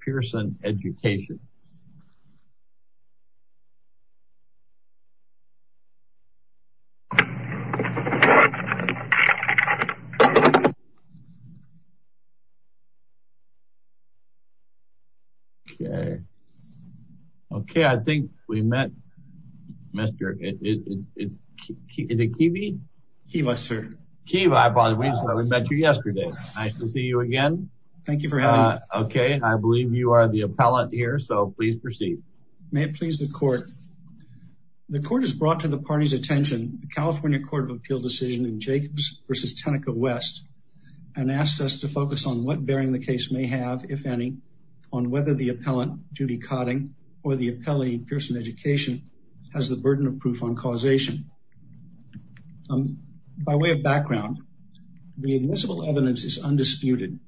Pearson Education. Okay. Okay, I think we met. Mr. It's the Keebee. Keeba, sir. Keeba, we met you yesterday. Nice to see you again. Thank you for having me. Okay, I believe you are the appellant here. So please proceed. May it please the court. The court has brought to the party's attention the California Court of Appeal decision in Jacobs versus Teneca West, and asked us to focus on what bearing the case may have, if any, on whether the appellant Judy Codding or the appellee Pearson Education has the burden of proof on causation. By way of background, the admissible evidence is undisputed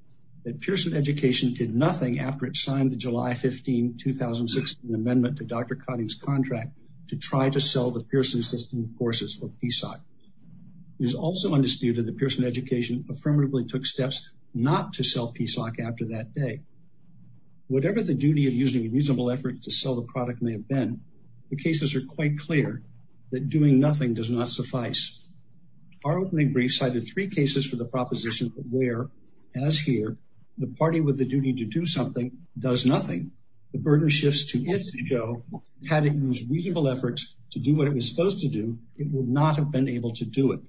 that Pearson Education did nothing after it signed the July 15, 2016 amendment to Dr. Codding's contract to try to sell the Pearson system courses for PSoC. It is also undisputed that Pearson Education affirmatively took steps not to sell PSoC after that day. Whatever the duty of using an usable effort to sell the product may have been, the cases are quite clear that doing nothing does not suffice. Our opening brief cited three cases for the proposition where, as here, the party with the duty to do something does nothing, the burden shifts to its ego, had it used reasonable efforts to do what it was supposed to do, it would not have been able to do it.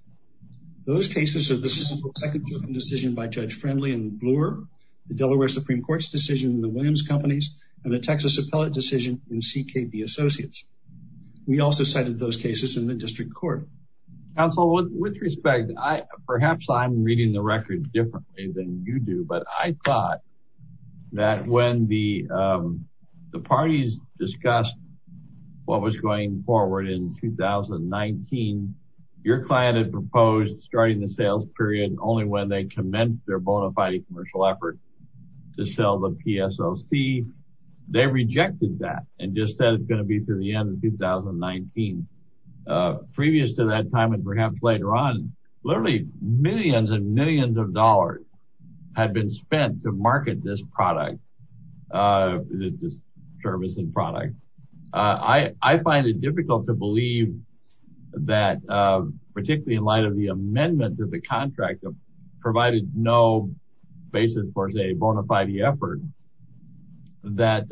Those cases are the second decision by Judge Friendly and Bloor, the Delaware Supreme Court's decision in the Williams Companies, and the Texas Appellate decision in CKB Associates. We also cited those cases in the district court. Counsel, with respect, perhaps I'm reading the record differently than you do. But I thought that when the parties discussed what was going forward in 2019, your client had proposed starting the sales period only when they commenced their bona fide commercial effort to sell the PSoC. They rejected that and just said it's going to be through the end of 2019. Previous to that time, and perhaps later on, literally millions and millions of dollars had been spent to market this product, this service and product. I find it difficult to believe that, particularly in light of the amendment of the contract, provided no basis for a bona fide effort, that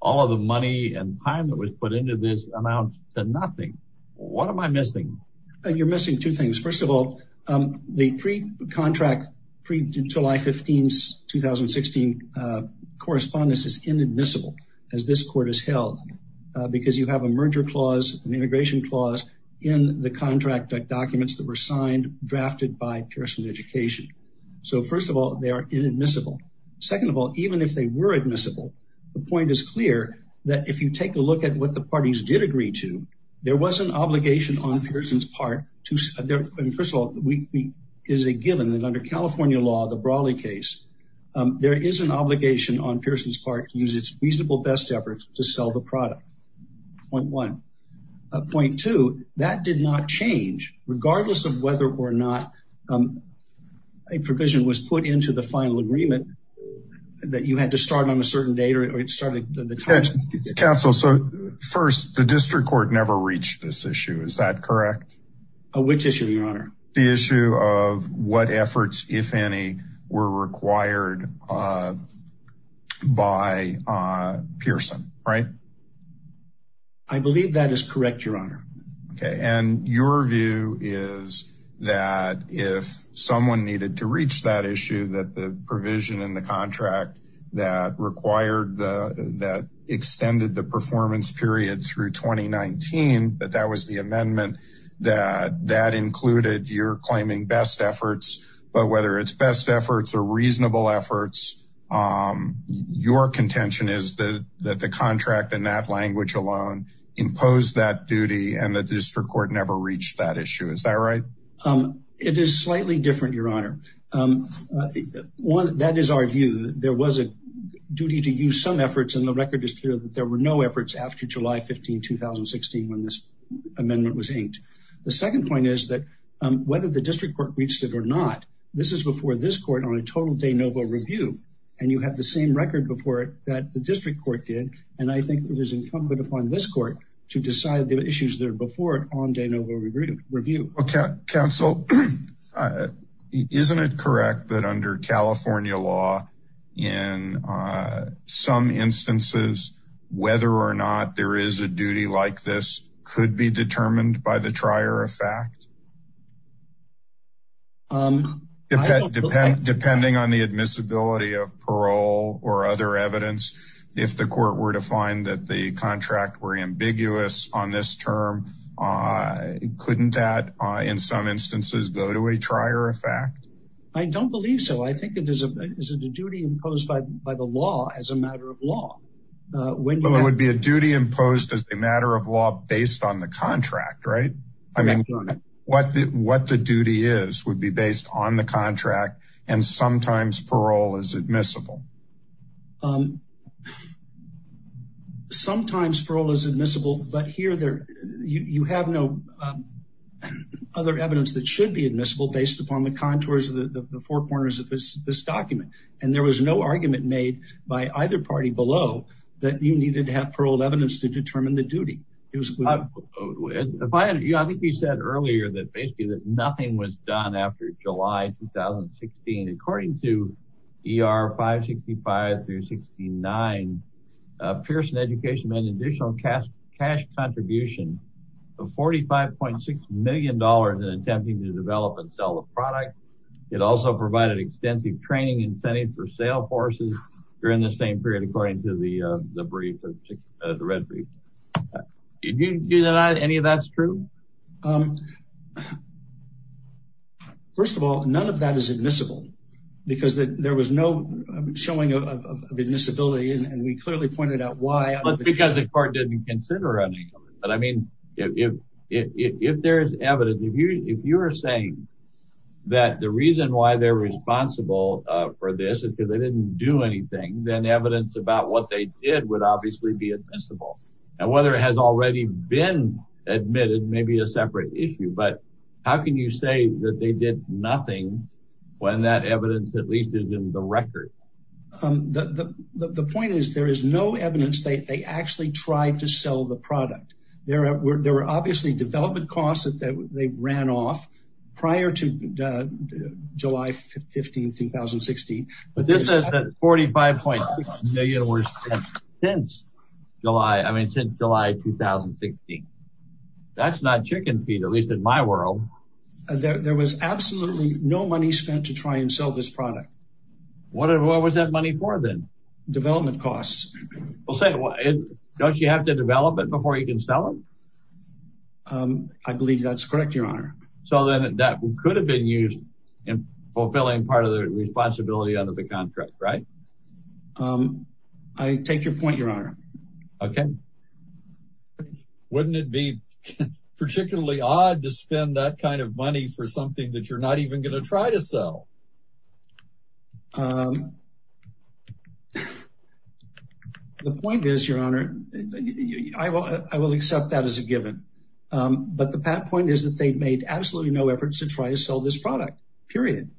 all of the money and time that was put into this amount said nothing. What am I missing? You're missing two things. First of all, the pre contract, pre July 15, 2016 correspondence is inadmissible, as this court has held, because you have a merger clause and integration clause in the contract documents that were signed, drafted by Pearson Education. So first of all, they are inadmissible. Second of all, even if they were admissible, the point is clear that if you take a look at what the parties did agree to, there was an obligation on Pearson's part to, first of all, we is a given that under California law, the Brawley case, there is an obligation on Pearson's part to use its reasonable best efforts to sell the product. Point one. Point two, that did not change, regardless of whether or not a provision was put into the final agreement, that you had to start on a certain date, or it started at the time. Counsel, so first, the district court never reached this issue. Is that correct? Which issue, Your Honor? The issue of what efforts, if any, were required by Pearson, right? I believe that is correct, Your Honor. Okay. And your view is that if someone needed to reach that issue, that the provision in the contract that extended the performance period through 2019, that that was the amendment that included your claiming best efforts, but whether it's best efforts or reasonable efforts, your contention is that the contract in that language alone imposed that duty, and that the district court never reached that issue. Is that right? It is slightly different, Your Honor. That is our view. There was a duty to use some efforts, and the record is clear that there were no efforts after July 15, 2016, when this amendment was inked. The second point is that whether the district court reached it or not, this is before this court on a total de novo review, and you have the same record before it that the district court did, and I think it is incumbent upon this court to decide the issues that are before it on de novo review. Counsel, isn't it correct that under California law, in some instances, whether or not there is a duty like this could be determined by the trier of fact? Depending on the admissibility of parole or other evidence, if the court were to find that the in some instances go to a trier of fact? I don't believe so. I think it is a duty imposed by the law as a matter of law. Well, it would be a duty imposed as a matter of law based on the contract, right? I mean, what the duty is would be based on the contract, and sometimes parole is admissible. Sometimes parole is admissible, but here you have no other evidence that should be admissible based upon the contours of the four corners of this document, and there was no argument made by either party below that you needed to have paroled evidence to determine the duty. I think you said earlier that basically that nothing was done after July 2016. According to ER 565 through 69, Pearson Education made an additional cash contribution of $45.6 million in attempting to develop and sell the product. It also provided extensive training incentive for sale forces during the same period according to the brief, the red brief. Do you deny any of that's true? First of all, none of that is admissible because there was no showing of admissibility, and we clearly pointed out why. That's because the court didn't consider anything. But I mean, if there's evidence, if you're saying that the reason why they're responsible for this is because they didn't do anything, then evidence about what they did would obviously be admissible. And whether it has already been admitted may be a nothing when that evidence at least is in the record. The point is, there is no evidence that they actually tried to sell the product. There were obviously development costs that they've ran off prior to July 15, 2016. But this is $45.6 million since July, I mean, since July 2016. That's not chicken feed, at least in my world. There was absolutely no money spent to try and sell this product. What was that money for then? Development costs. Well, don't you have to develop it before you can sell it? I believe that's correct, Your Honor. So then that could have been used in fulfilling part of the responsibility under the contract, right? I take your point, Your Honor. Okay. Wouldn't it be particularly odd to spend that kind of money for something that you're not even going to try to sell? The point is, Your Honor, I will accept that as a given. But the point is that they've made absolutely no efforts to try to sell this product, period.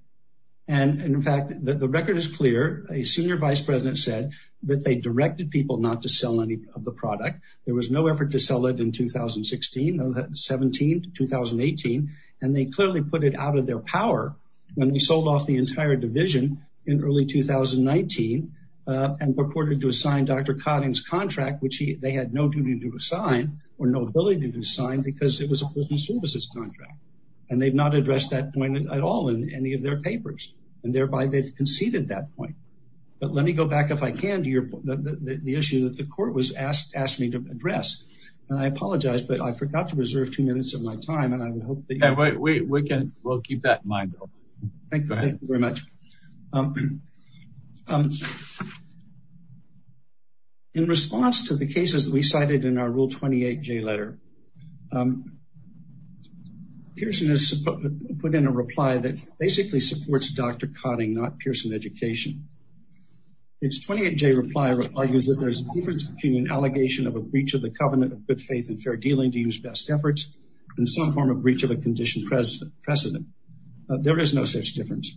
And in fact, the record is clear. A senior vice president said that they directed people not to sell any of the product. There was no effort to sell it in 2016, 2017, 2018. And they clearly put it out of their power when they sold off the entire division in early 2019 and purported to assign Dr. Cotting's contract, which they had no duty to assign or no ability to assign because it was a business services contract. And they've not addressed that point at all in any of their papers, and thereby they've conceded that point. But let me go back, if I can, to the issue that the court was asked me to address. And I apologize, but I forgot to reserve two minutes of my time, and I would hope that you can... Yeah, we'll keep that in mind, though. Thank you very much. In response to the cases that we cited in our Rule 28J letter, Pearson has put in a reply that basically supports Dr. Cotting, not Pearson Education. It's 28J reply argues that there's a difference between an allegation of a breach of the covenant of good faith and fair dealing to use best efforts and some form of breach of a condition precedent. There is no such difference.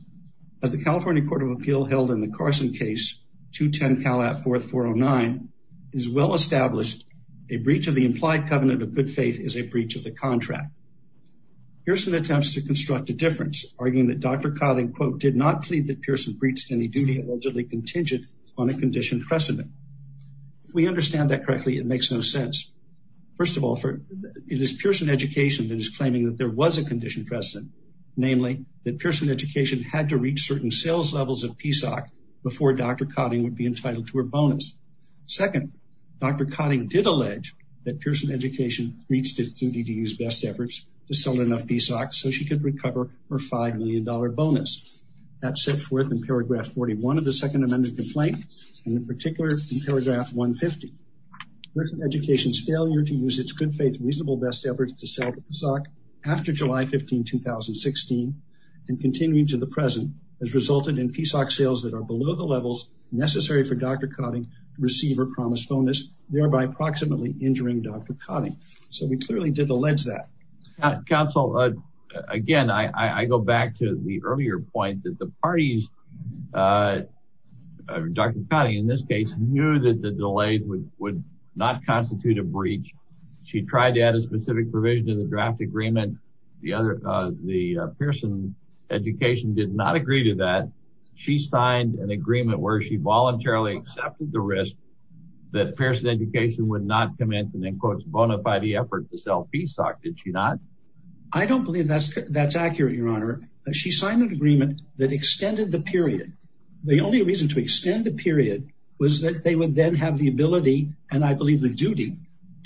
As the California Court of Appeal held in the Carson case, 210 Calat 4409, is well-established, a breach of the implied covenant of good faith is a breach of the contract. Pearson attempts to construct a difference, arguing that Dr. Cotting, quote, did not plead that Pearson breached any duty allegedly contingent on a condition precedent. If we understand that correctly, it makes no sense. First of all, it is Pearson Education that is claiming that there was a condition precedent, namely that Pearson Education had to reach certain sales levels of PSOC before Dr. Cotting would be entitled to a bonus. Second, Dr. Cotting did allege that Pearson Education reached its duty to use best efforts to sell enough PSOC so she could recover her $5 million bonus. That's set forth in paragraph 41 of the second amended complaint and in particular in paragraph 150. Pearson Education's failure to use its good faith reasonable best efforts to sell PSOC after July 15, 2016 and continuing to the present has resulted in PSOC sales that are below the levels necessary for Dr. Cotting to receive her promised bonus, thereby approximately injuring Dr. Cotting. So we clearly did allege that. Counsel, again, I go back to the earlier point that the parties, Dr. Cotting, in this case, knew that the delay would not constitute a breach. She tried to add a specific provision in the draft agreement. The Pearson Education did not agree to that. She signed an agreement where she voluntarily accepted the risk that Pearson Education would not commence and then quote, bona fide effort to sell PSOC, did she not? I don't believe that's that's accurate, Your Honor. She signed an agreement that extended the period. The only reason to extend the period was that they would then have the ability and I believe the duty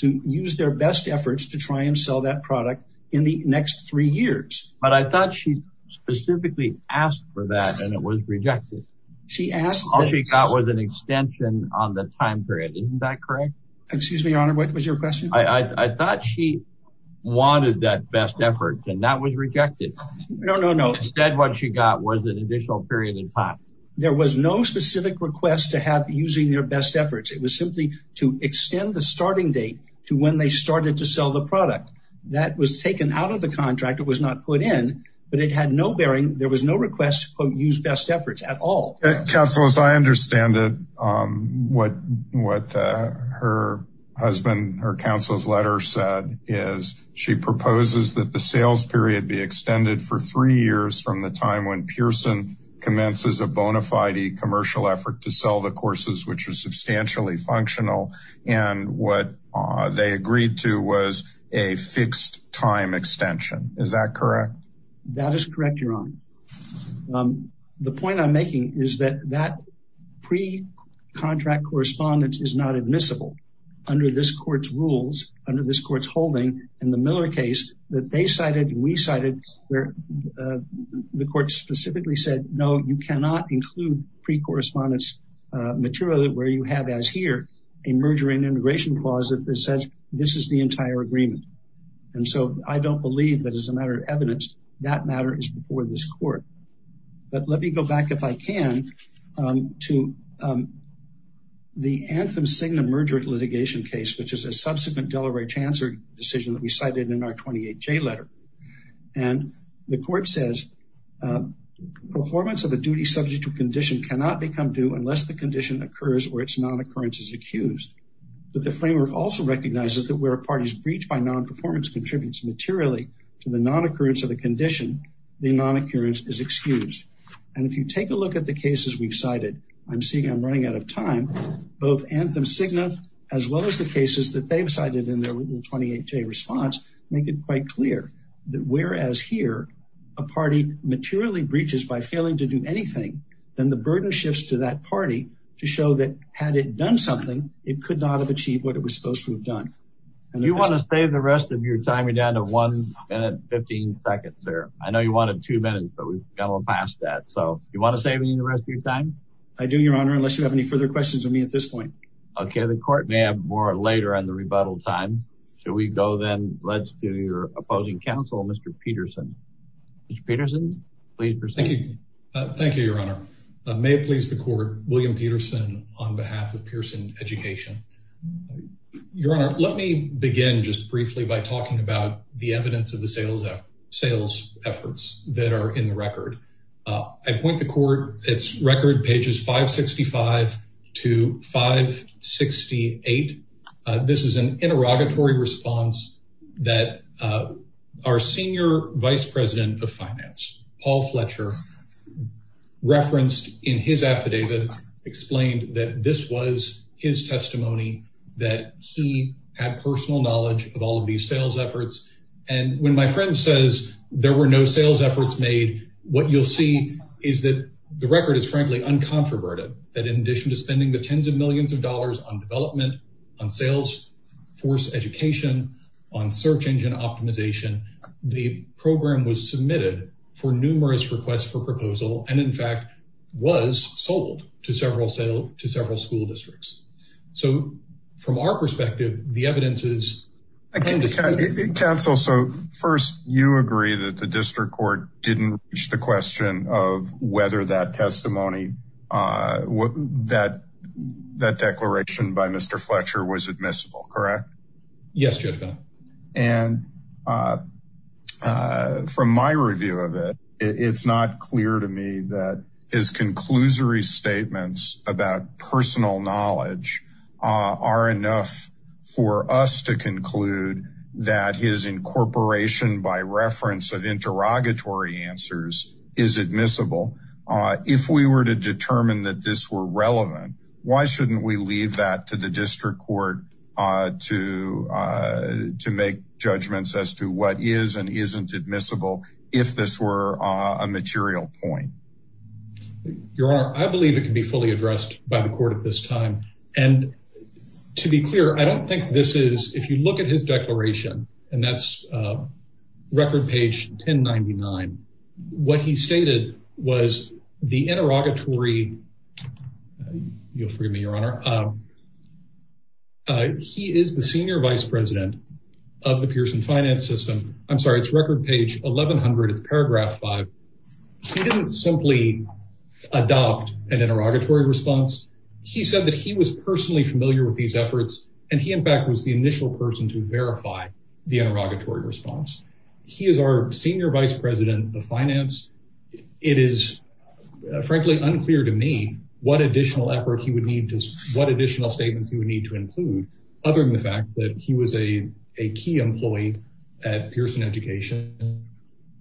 to use their best efforts to try and sell that product in the next three years. But I thought she specifically asked for that and it was rejected. She asked. All she got was an extension on the time period. Isn't that correct? Excuse me, Your Honor, what was your question? I thought she wanted that best effort and that was rejected. No, no, no. Instead, what she got was an additional period of time. There was no specific request to have using their best efforts. It was simply to extend the starting date to when they started to sell the product that was taken out of the contract. It was not put in, but it had no bearing. There was no request to quote, use best efforts at all. Counselors, I understand what her husband, her counsel's letter said, is she proposes that the sales period be extended for three years from the time when Pearson commences a bona fide commercial effort to sell the courses, which was substantially functional. And what they agreed to was a fixed time extension. Is that correct? That is correct, Your Honor. The point I'm making is that that pre-contract correspondence is not admissible under this court's rules, under this court's holding in the Miller case that they cited, we cited where the court specifically said, no, you cannot include pre-correspondence material where you have as here, a merger and integration clause that says this is the entire agreement. And so I don't believe that as a matter of evidence, that matter is before this court. But let me go back if I can, to the Anthem-Signa merger litigation case, which is a subsequent Delaware Chancer decision that we cited in our 28J letter. And the court says, performance of a duty subject to condition cannot become due unless the condition occurs or its non-occurrence is accused. But the framework also recognizes that where a party's breach by non-performance contributes materially to the non-occurrence of the condition, the non-occurrence is excused. And if you take a look at the cases we've cited, I'm seeing I'm running out of time, both Anthem-Signa, as well as the cases that they've cited in their 28J response, make it quite clear that whereas here, a party materially breaches by failing to do anything, then the burden shifts to that party to show that had it done something, it could not have achieved what it was supposed to have done. And if you want to save the rest of your time, you're down to one minute, 15 seconds there. I know you wanted two minutes, but we've gone past that. So you want to save me the rest of your time? I do, Your Honor, unless you have any further questions with me at this point. Okay. The court may have more later on the rebuttal time. Should we go then? Let's do your opposing counsel, Mr. Peterson. Mr. Peterson, please proceed. Thank you. Thank you, Your Honor. May it please the court, William Peterson on behalf of Pearson Education. Your Honor, let me begin just briefly by talking about the evidence of the sales efforts that are in the record. I point the court, it's record pages 565 to 568. This is an interrogatory response that our senior vice president of finance, Paul Fletcher, referenced in his affidavits, explained that this was his testimony, that he had personal knowledge of all of these sales efforts. And when my friend says there were no sales efforts made, what you'll see is that the record is frankly uncontroverted, that in addition to spending the tens of millions of dollars on development, on sales force education, on search engine optimization, the program was submitted for numerous requests for proposal. And in fact, was sold to several school districts. So from our perspective, the evidence is indisputable. Counsel, so first you agree that the district court didn't reach the question of whether that testimony, that declaration by Mr. Fletcher was admissible, correct? Yes, Judge Kahn. And from my review of it, it's not clear to me that his testimony and his personal knowledge are enough for us to conclude that his incorporation by reference of interrogatory answers is admissible. If we were to determine that this were relevant, why shouldn't we leave that to the district court to make judgments as to what is and isn't admissible, if this were a material point? Your Honor, I believe it can be fully addressed by the court at this time. And to be clear, I don't think this is, if you look at his declaration and that's record page 1099, what he stated was the interrogatory, you'll forgive me, Your Honor, he is the senior vice president of the Pearson finance system. I'm sorry, it's record page 1100, it's paragraph five. He didn't simply adopt an interrogatory response. He said that he was personally familiar with these efforts. And he, in fact, was the initial person to verify the interrogatory response. He is our senior vice president of finance. It is frankly unclear to me what additional effort he would need to, what additional statements he would need to include, other than the fact that he was a key employee at Pearson education.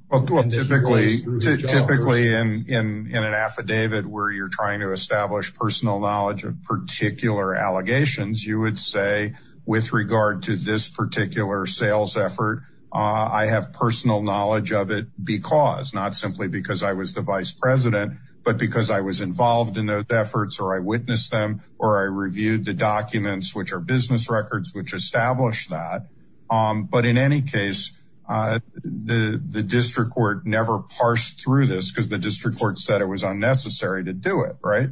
Well, typically, typically in an affidavit where you're trying to establish personal knowledge of particular allegations, you would say, with regard to this particular sales effort, I have personal knowledge of it because, not simply because I was the vice president, but because I was involved in those efforts or I witnessed them, or I reviewed the documents, which are business records, which established that. But in any case, the district court never parsed through this because the district court said it was unnecessary to do it. Right.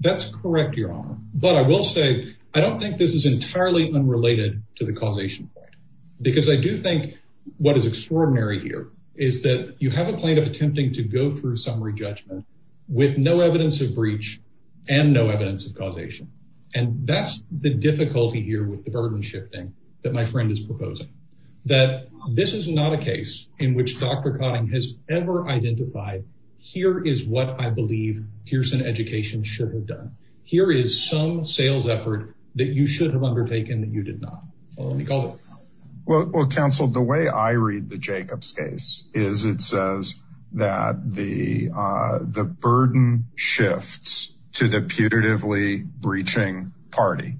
That's correct, your honor. But I will say, I don't think this is entirely unrelated to the causation point, because I do think what is extraordinary here is that you have a plaintiff attempting to go through summary judgment with no evidence of breach and no evidence of causation. And that's the difficulty here with the burden shifting that my friend is proposing, that this is not a case in which Dr. Cotting has ever identified. Here is what I believe Pearson education should have done. Here is some sales effort that you should have undertaken that you did not. So let me call it. Well, counsel, the way I read the Jacobs case is it says that the burden shifts to the putatively breaching party.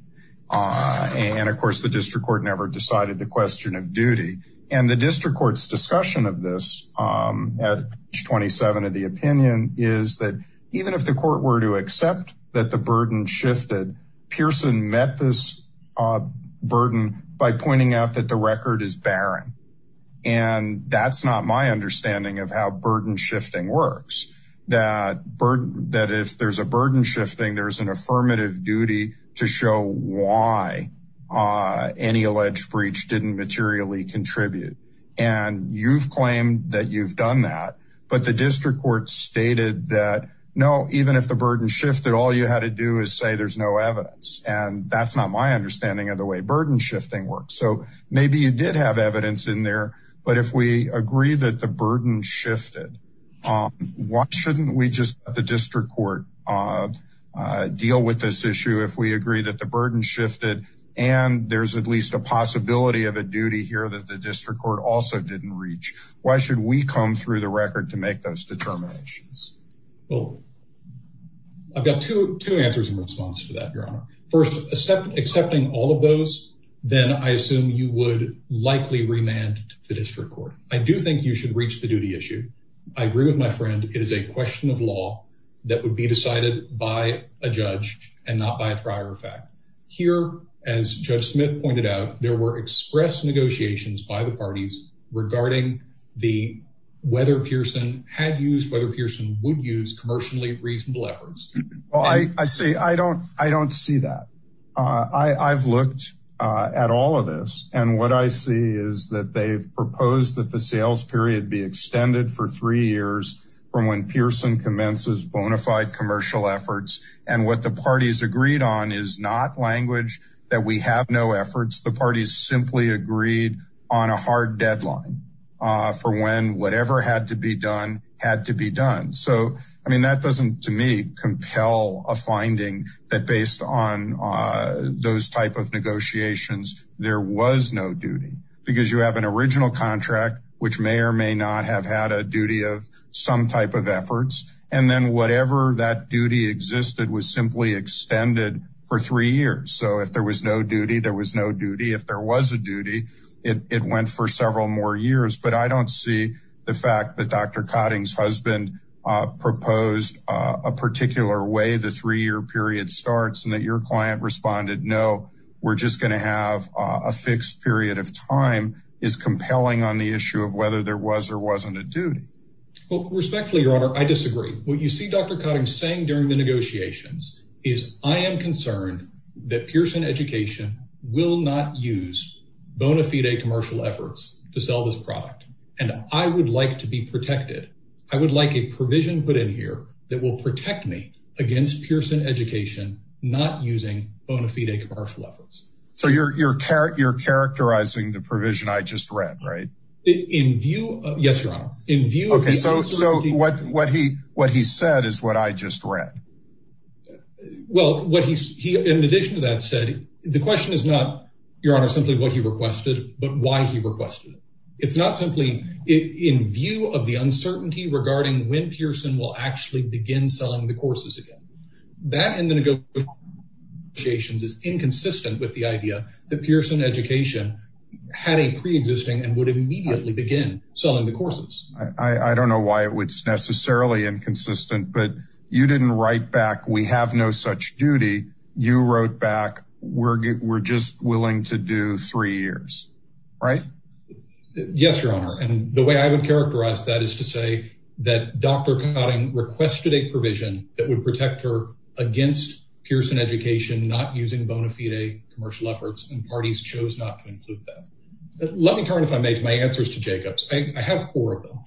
And of course, the district court never decided the question of duty and the district court's discussion of this at 27 of the opinion is that even if the court were to accept that the burden shifted, Pearson met this burden by pointing out that the record is barren. And that's not my understanding of how burden shifting works, that if there's a burden shifting, there's an affirmative duty to show why any alleged breach didn't materially contribute. And you've claimed that you've done that. But the district court stated that no, even if the burden shifted, all you had to do is say there's no evidence. And that's not my understanding of the way burden shifting works. So maybe you did have evidence in there. But if we agree that the burden shifted, why shouldn't we just the district court deal with this issue? If we agree that the burden shifted, and there's at least a possibility of a duty here that the district court also didn't reach, why should we come through the record to make those determinations? Well, I've got two answers in response to that, Your Honor. First, accepting all of those, then I assume you would likely remand the district court. I do think you should reach the duty issue. I agree with my friend. It is a question of law that would be decided by a judge and not by a trier of fact. Here, as Judge Smith pointed out, there were express negotiations by the parties regarding the whether Pearson had used whether Pearson would use commercially reasonable efforts. Well, I say I don't, I don't see that. I've looked at all of this. And what I see is that they've proposed that the sales period be extended for three years from when Pearson commences bona fide commercial efforts. And what the parties agreed on is not language that we have no efforts. The parties simply agreed on a hard deadline for when whatever had to be done had to be done. So, I mean, that doesn't, to me, compel a finding that based on those type of negotiations, there was no duty because you have an original contract, which may or may not have had a duty of some type of efforts. And then whatever that duty existed was simply extended for three years. So if there was no duty, there was no duty. If there was a duty, it went for several more years. But I don't see the fact that Dr. Cotting's husband proposed a particular way the three year period starts and that your client responded, no, we're just going to have a fixed period of time is compelling on the issue of whether there was or wasn't a duty. Well, respectfully, Your Honor, I disagree. What you see Dr. Cotting saying during the negotiations is I am concerned that Pearson Education will not use bona fide commercial efforts to sell this product. And I would like to be protected. I would like a provision put in here that will protect me against Pearson Education not using bona fide commercial efforts. So you're characterizing the provision I just read, right? In view. Yes, Your Honor. In view. Okay. So what he said is what I just read. Well, in addition to that said, the question is not, Your Honor, simply what he requested, but why he requested it. It's not simply in view of the uncertainty regarding when Pearson will actually begin selling the courses again. That in the negotiations is inconsistent with the idea that Pearson Education had a pre-existing and would immediately begin selling the courses. I don't know why it was necessarily inconsistent, but you didn't write back. We have no such duty. You wrote back. We're just willing to do three years, right? Yes, Your Honor. And the way I would characterize that is to say that Dr. against Pearson Education, not using bona fide commercial efforts and parties chose not to include that. Let me turn if I make my answers to Jacob's. I have four of them.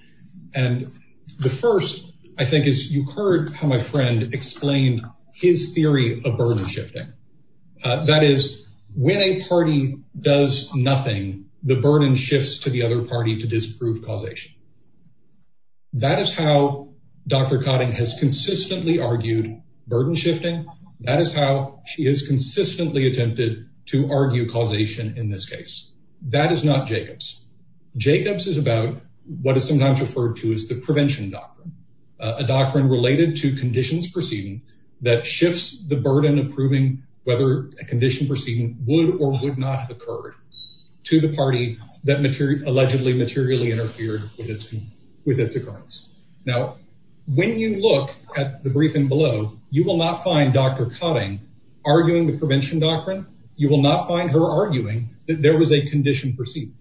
And the first I think is you heard how my friend explained his theory of burden shifting. That is when a party does nothing, the burden shifts to the other party to disprove causation. That is how Dr. Cotting has consistently argued burden shifting. That is how she is consistently attempted to argue causation in this case. That is not Jacob's. Jacob's is about what is sometimes referred to as the prevention doctrine, a doctrine related to conditions proceeding that shifts the burden of proving whether a condition proceeding would or would not have occurred to the party that allegedly materially interfered with its occurrence. Now, when you look at the briefing below, you will not find Dr. Cotting arguing the prevention doctrine. You will not find her arguing that there was a condition proceeding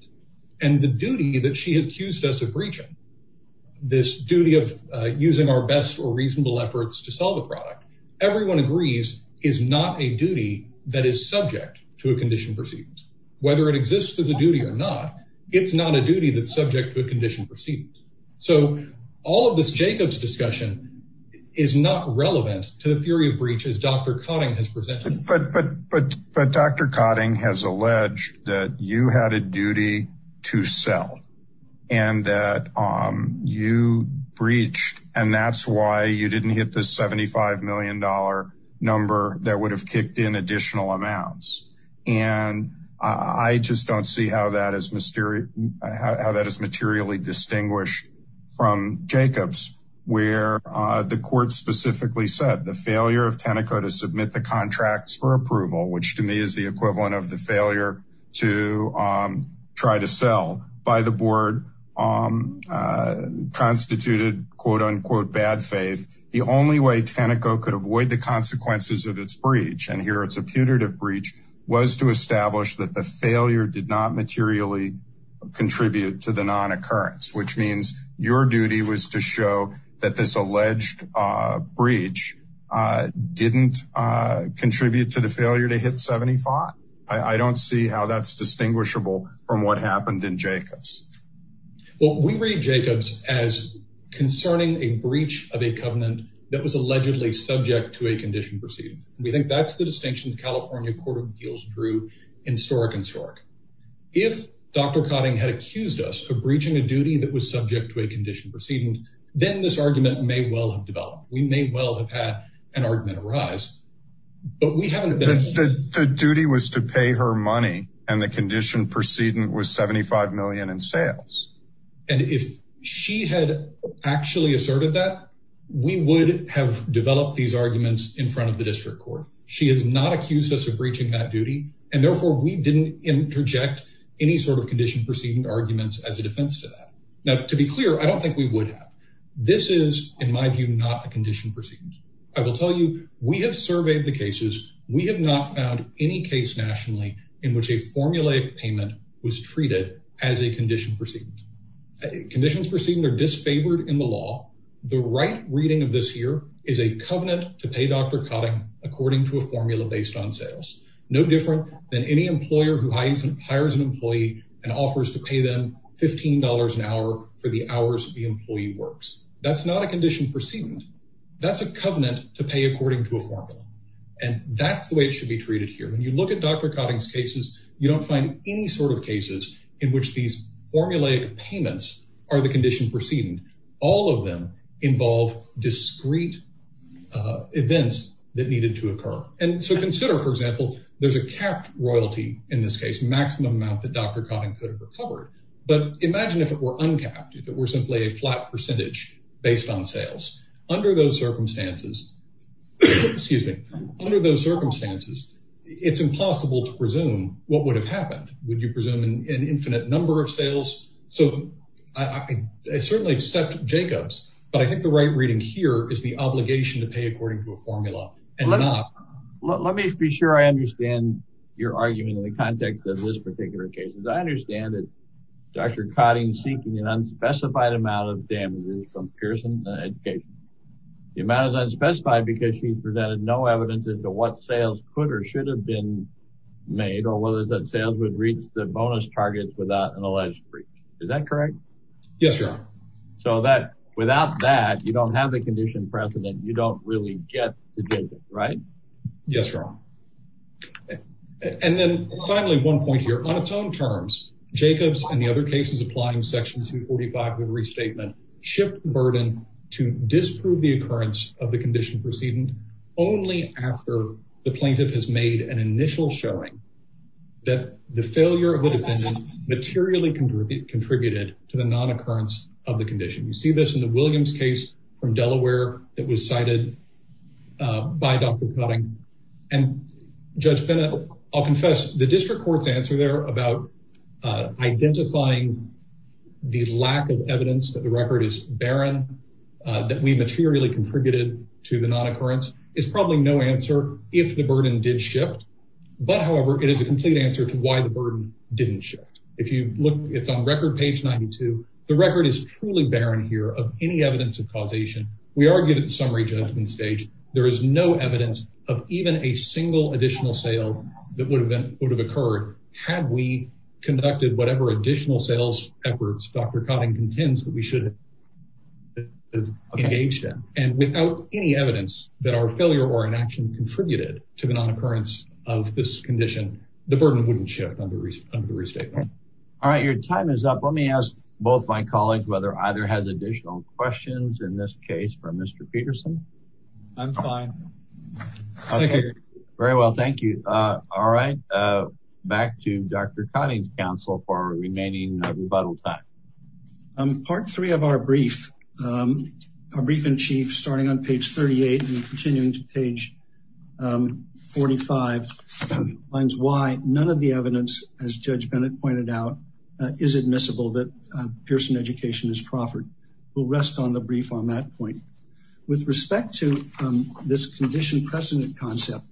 and the duty that she accused us of breaching this duty of using our best or reasonable efforts to sell the product. Everyone agrees is not a duty that is subject to a condition proceeding, whether it exists as a duty or not. It's not a duty that's subject to a condition proceeding. So all of this Jacob's discussion is not relevant to the theory of breaches Dr. Cotting has presented. But Dr. Cotting has alleged that you had a duty to sell and that you breached and that's why you didn't hit the $75 million number that would have kicked in additional amounts. And I just don't see how that is how that is materially distinguished from Jacobs, where the court specifically said the failure of Tenneco to submit the contracts for approval, which to me is the equivalent of the failure to try to sell by the board constituted, quote, unquote, bad faith. The only way Tenneco could avoid the consequences of its breach, and here it's a putative breach, was to establish that the failure did not materially contribute to the non occurrence, which means your duty was to show that this alleged breach didn't contribute to the failure to hit 75. I don't see how that's distinguishable from what happened in Jacobs. Well, we read Jacobs as concerning a breach of a covenant that was allegedly subject to a condition proceeding. We think that's the distinction the California Court of Appeals drew in historic and historic. If Dr. Cotting had accused us of breaching a duty that was subject to a condition proceeding, then this argument may well have developed. We may well have had an argument arise, but we haven't. The duty was to pay her money and the condition proceeding was $75 million in sales. And if she had actually asserted that, we would have developed these arguments in front of the district court. She has not accused us of breaching that duty, and therefore we didn't interject any sort of condition proceeding arguments as a defense to that. Now, to be clear, I don't think we would have. This is, in my view, not a condition proceeding. I will tell you, we have surveyed the cases. We have not found any case nationally in which a formulaic payment was treated as a condition proceeding. Conditions proceeding are disfavored in the law. The right reading of this year is a covenant to pay Dr. Cotting according to a formula based on sales. No different than any employer who hires an employee and offers to pay them $15 an hour for the hours the employee works. That's not a condition proceeding. That's a covenant to pay according to a formula, and that's the way it should be treated here. When you look at Dr. Cotting's cases, you don't find any sort of cases in which these formulaic payments are the condition proceeding. All of them involve discrete events that needed to occur. And so consider, for example, there's a capped royalty in this case, maximum amount that Dr. Cotting could have recovered. But imagine if it were uncapped, if it were simply a flat percentage based on sales. Under those circumstances, excuse me, under those circumstances, it's impossible to presume what would have happened. Would you presume an infinite number of sales? So I certainly accept Jacob's, but I think the right reading here is the obligation to pay according to a formula. Let me be sure I understand your argument in the context of this particular case. I understand that Dr. Cotting is seeking an unspecified amount of damages from Pearson Education. The amount is unspecified because she presented no evidence as to what sales could or should have been made, or whether that sales would reach the bonus targets without an alleged breach. Is that correct? Yes, Your Honor. So that without that, you don't have a condition precedent. You don't really get to Jacob, right? Yes, Your Honor. And then finally, one point here on its own terms, Jacob's and the other cases applying section 245 of the restatement shift burden to disprove the occurrence of the condition proceeding only after the plaintiff has made an initial showing that the failure of the defendant materially contributed to the non-occurrence of the condition. You see this in the Williams case from Delaware that was cited by Dr. Cotting and Judge Bennett. I'll confess the district court's answer there about identifying the lack of evidence that the record is barren, that we materially contributed to the non-occurrence is probably no answer if the burden did shift. But however, it is a complete answer to why the burden didn't shift. If you look, it's on record page 92. The record is truly barren here of any evidence of causation. We argued at the summary judgment stage. There is no evidence of even a single additional sale that would have occurred had we conducted whatever additional sales efforts Dr. Cotting contends that we should have engaged in. And without any evidence that our failure or inaction contributed to the non-occurrence of this condition, the burden wouldn't shift under the restatement. All right. Your time is up. Let me ask both my colleagues whether either has additional questions in this case for Mr. Peterson. I'm fine. Very well. Thank you. All right. Back to Dr. Cotting's counsel for remaining rebuttal time. Part three of our brief, our brief in chief, starting on page 38 and continuing to page 45, finds why none of the is admissible that Pearson education is proffered. We'll rest on the brief on that point. With respect to this condition precedent concept,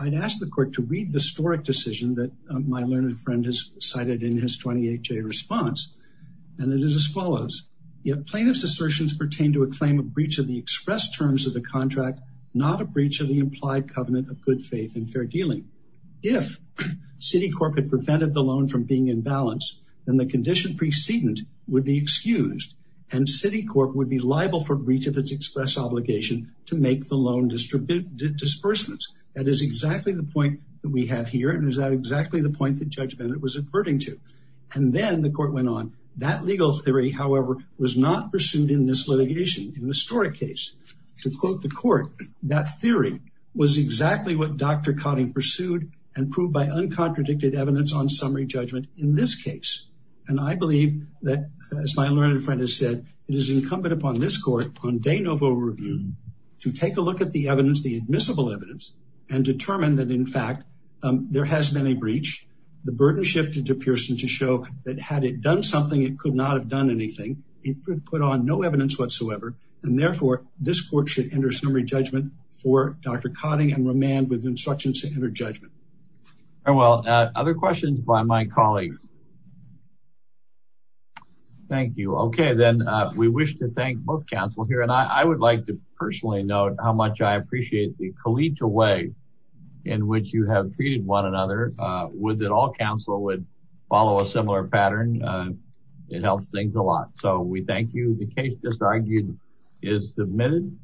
I'd ask the court to read the historic decision that my learned friend has cited in his 28-J response. And it is as follows. Yet plaintiff's assertions pertain to a claim of breach of the express terms of the contract, not a breach of the implied covenant of good faith and fair dealing. If Citicorp had prevented the loan from being in balance, then the condition precedent would be excused and Citicorp would be liable for breach of its express obligation to make the loan disbursements. That is exactly the point that we have here. And is that exactly the point that Judge Bennett was averting to? And then the court went on. That legal theory, however, was not pursued in this litigation in the historic case. To quote the court, that theory was exactly what Dr. Cotting pursued and proved by uncontradicted evidence on summary judgment in this case. And I believe that, as my learned friend has said, it is incumbent upon this court on de novo review to take a look at the evidence, the admissible evidence, and determine that, in fact, there has been a breach. The burden shifted to Pearson to show that had it done something, it could not have done anything. It could put on no evidence whatsoever. And therefore, this court should enter summary judgment for Dr. Cotting and remand with instructions to enter judgment. Very well. Other questions by my colleagues? Thank you. Okay, then we wish to thank both counsel here. And I would like to personally note how much I appreciate the collegial way in which you have treated one another. Would that all counsel would follow a similar pattern? It helps things a lot. So we thank you. The case just argued is submitted.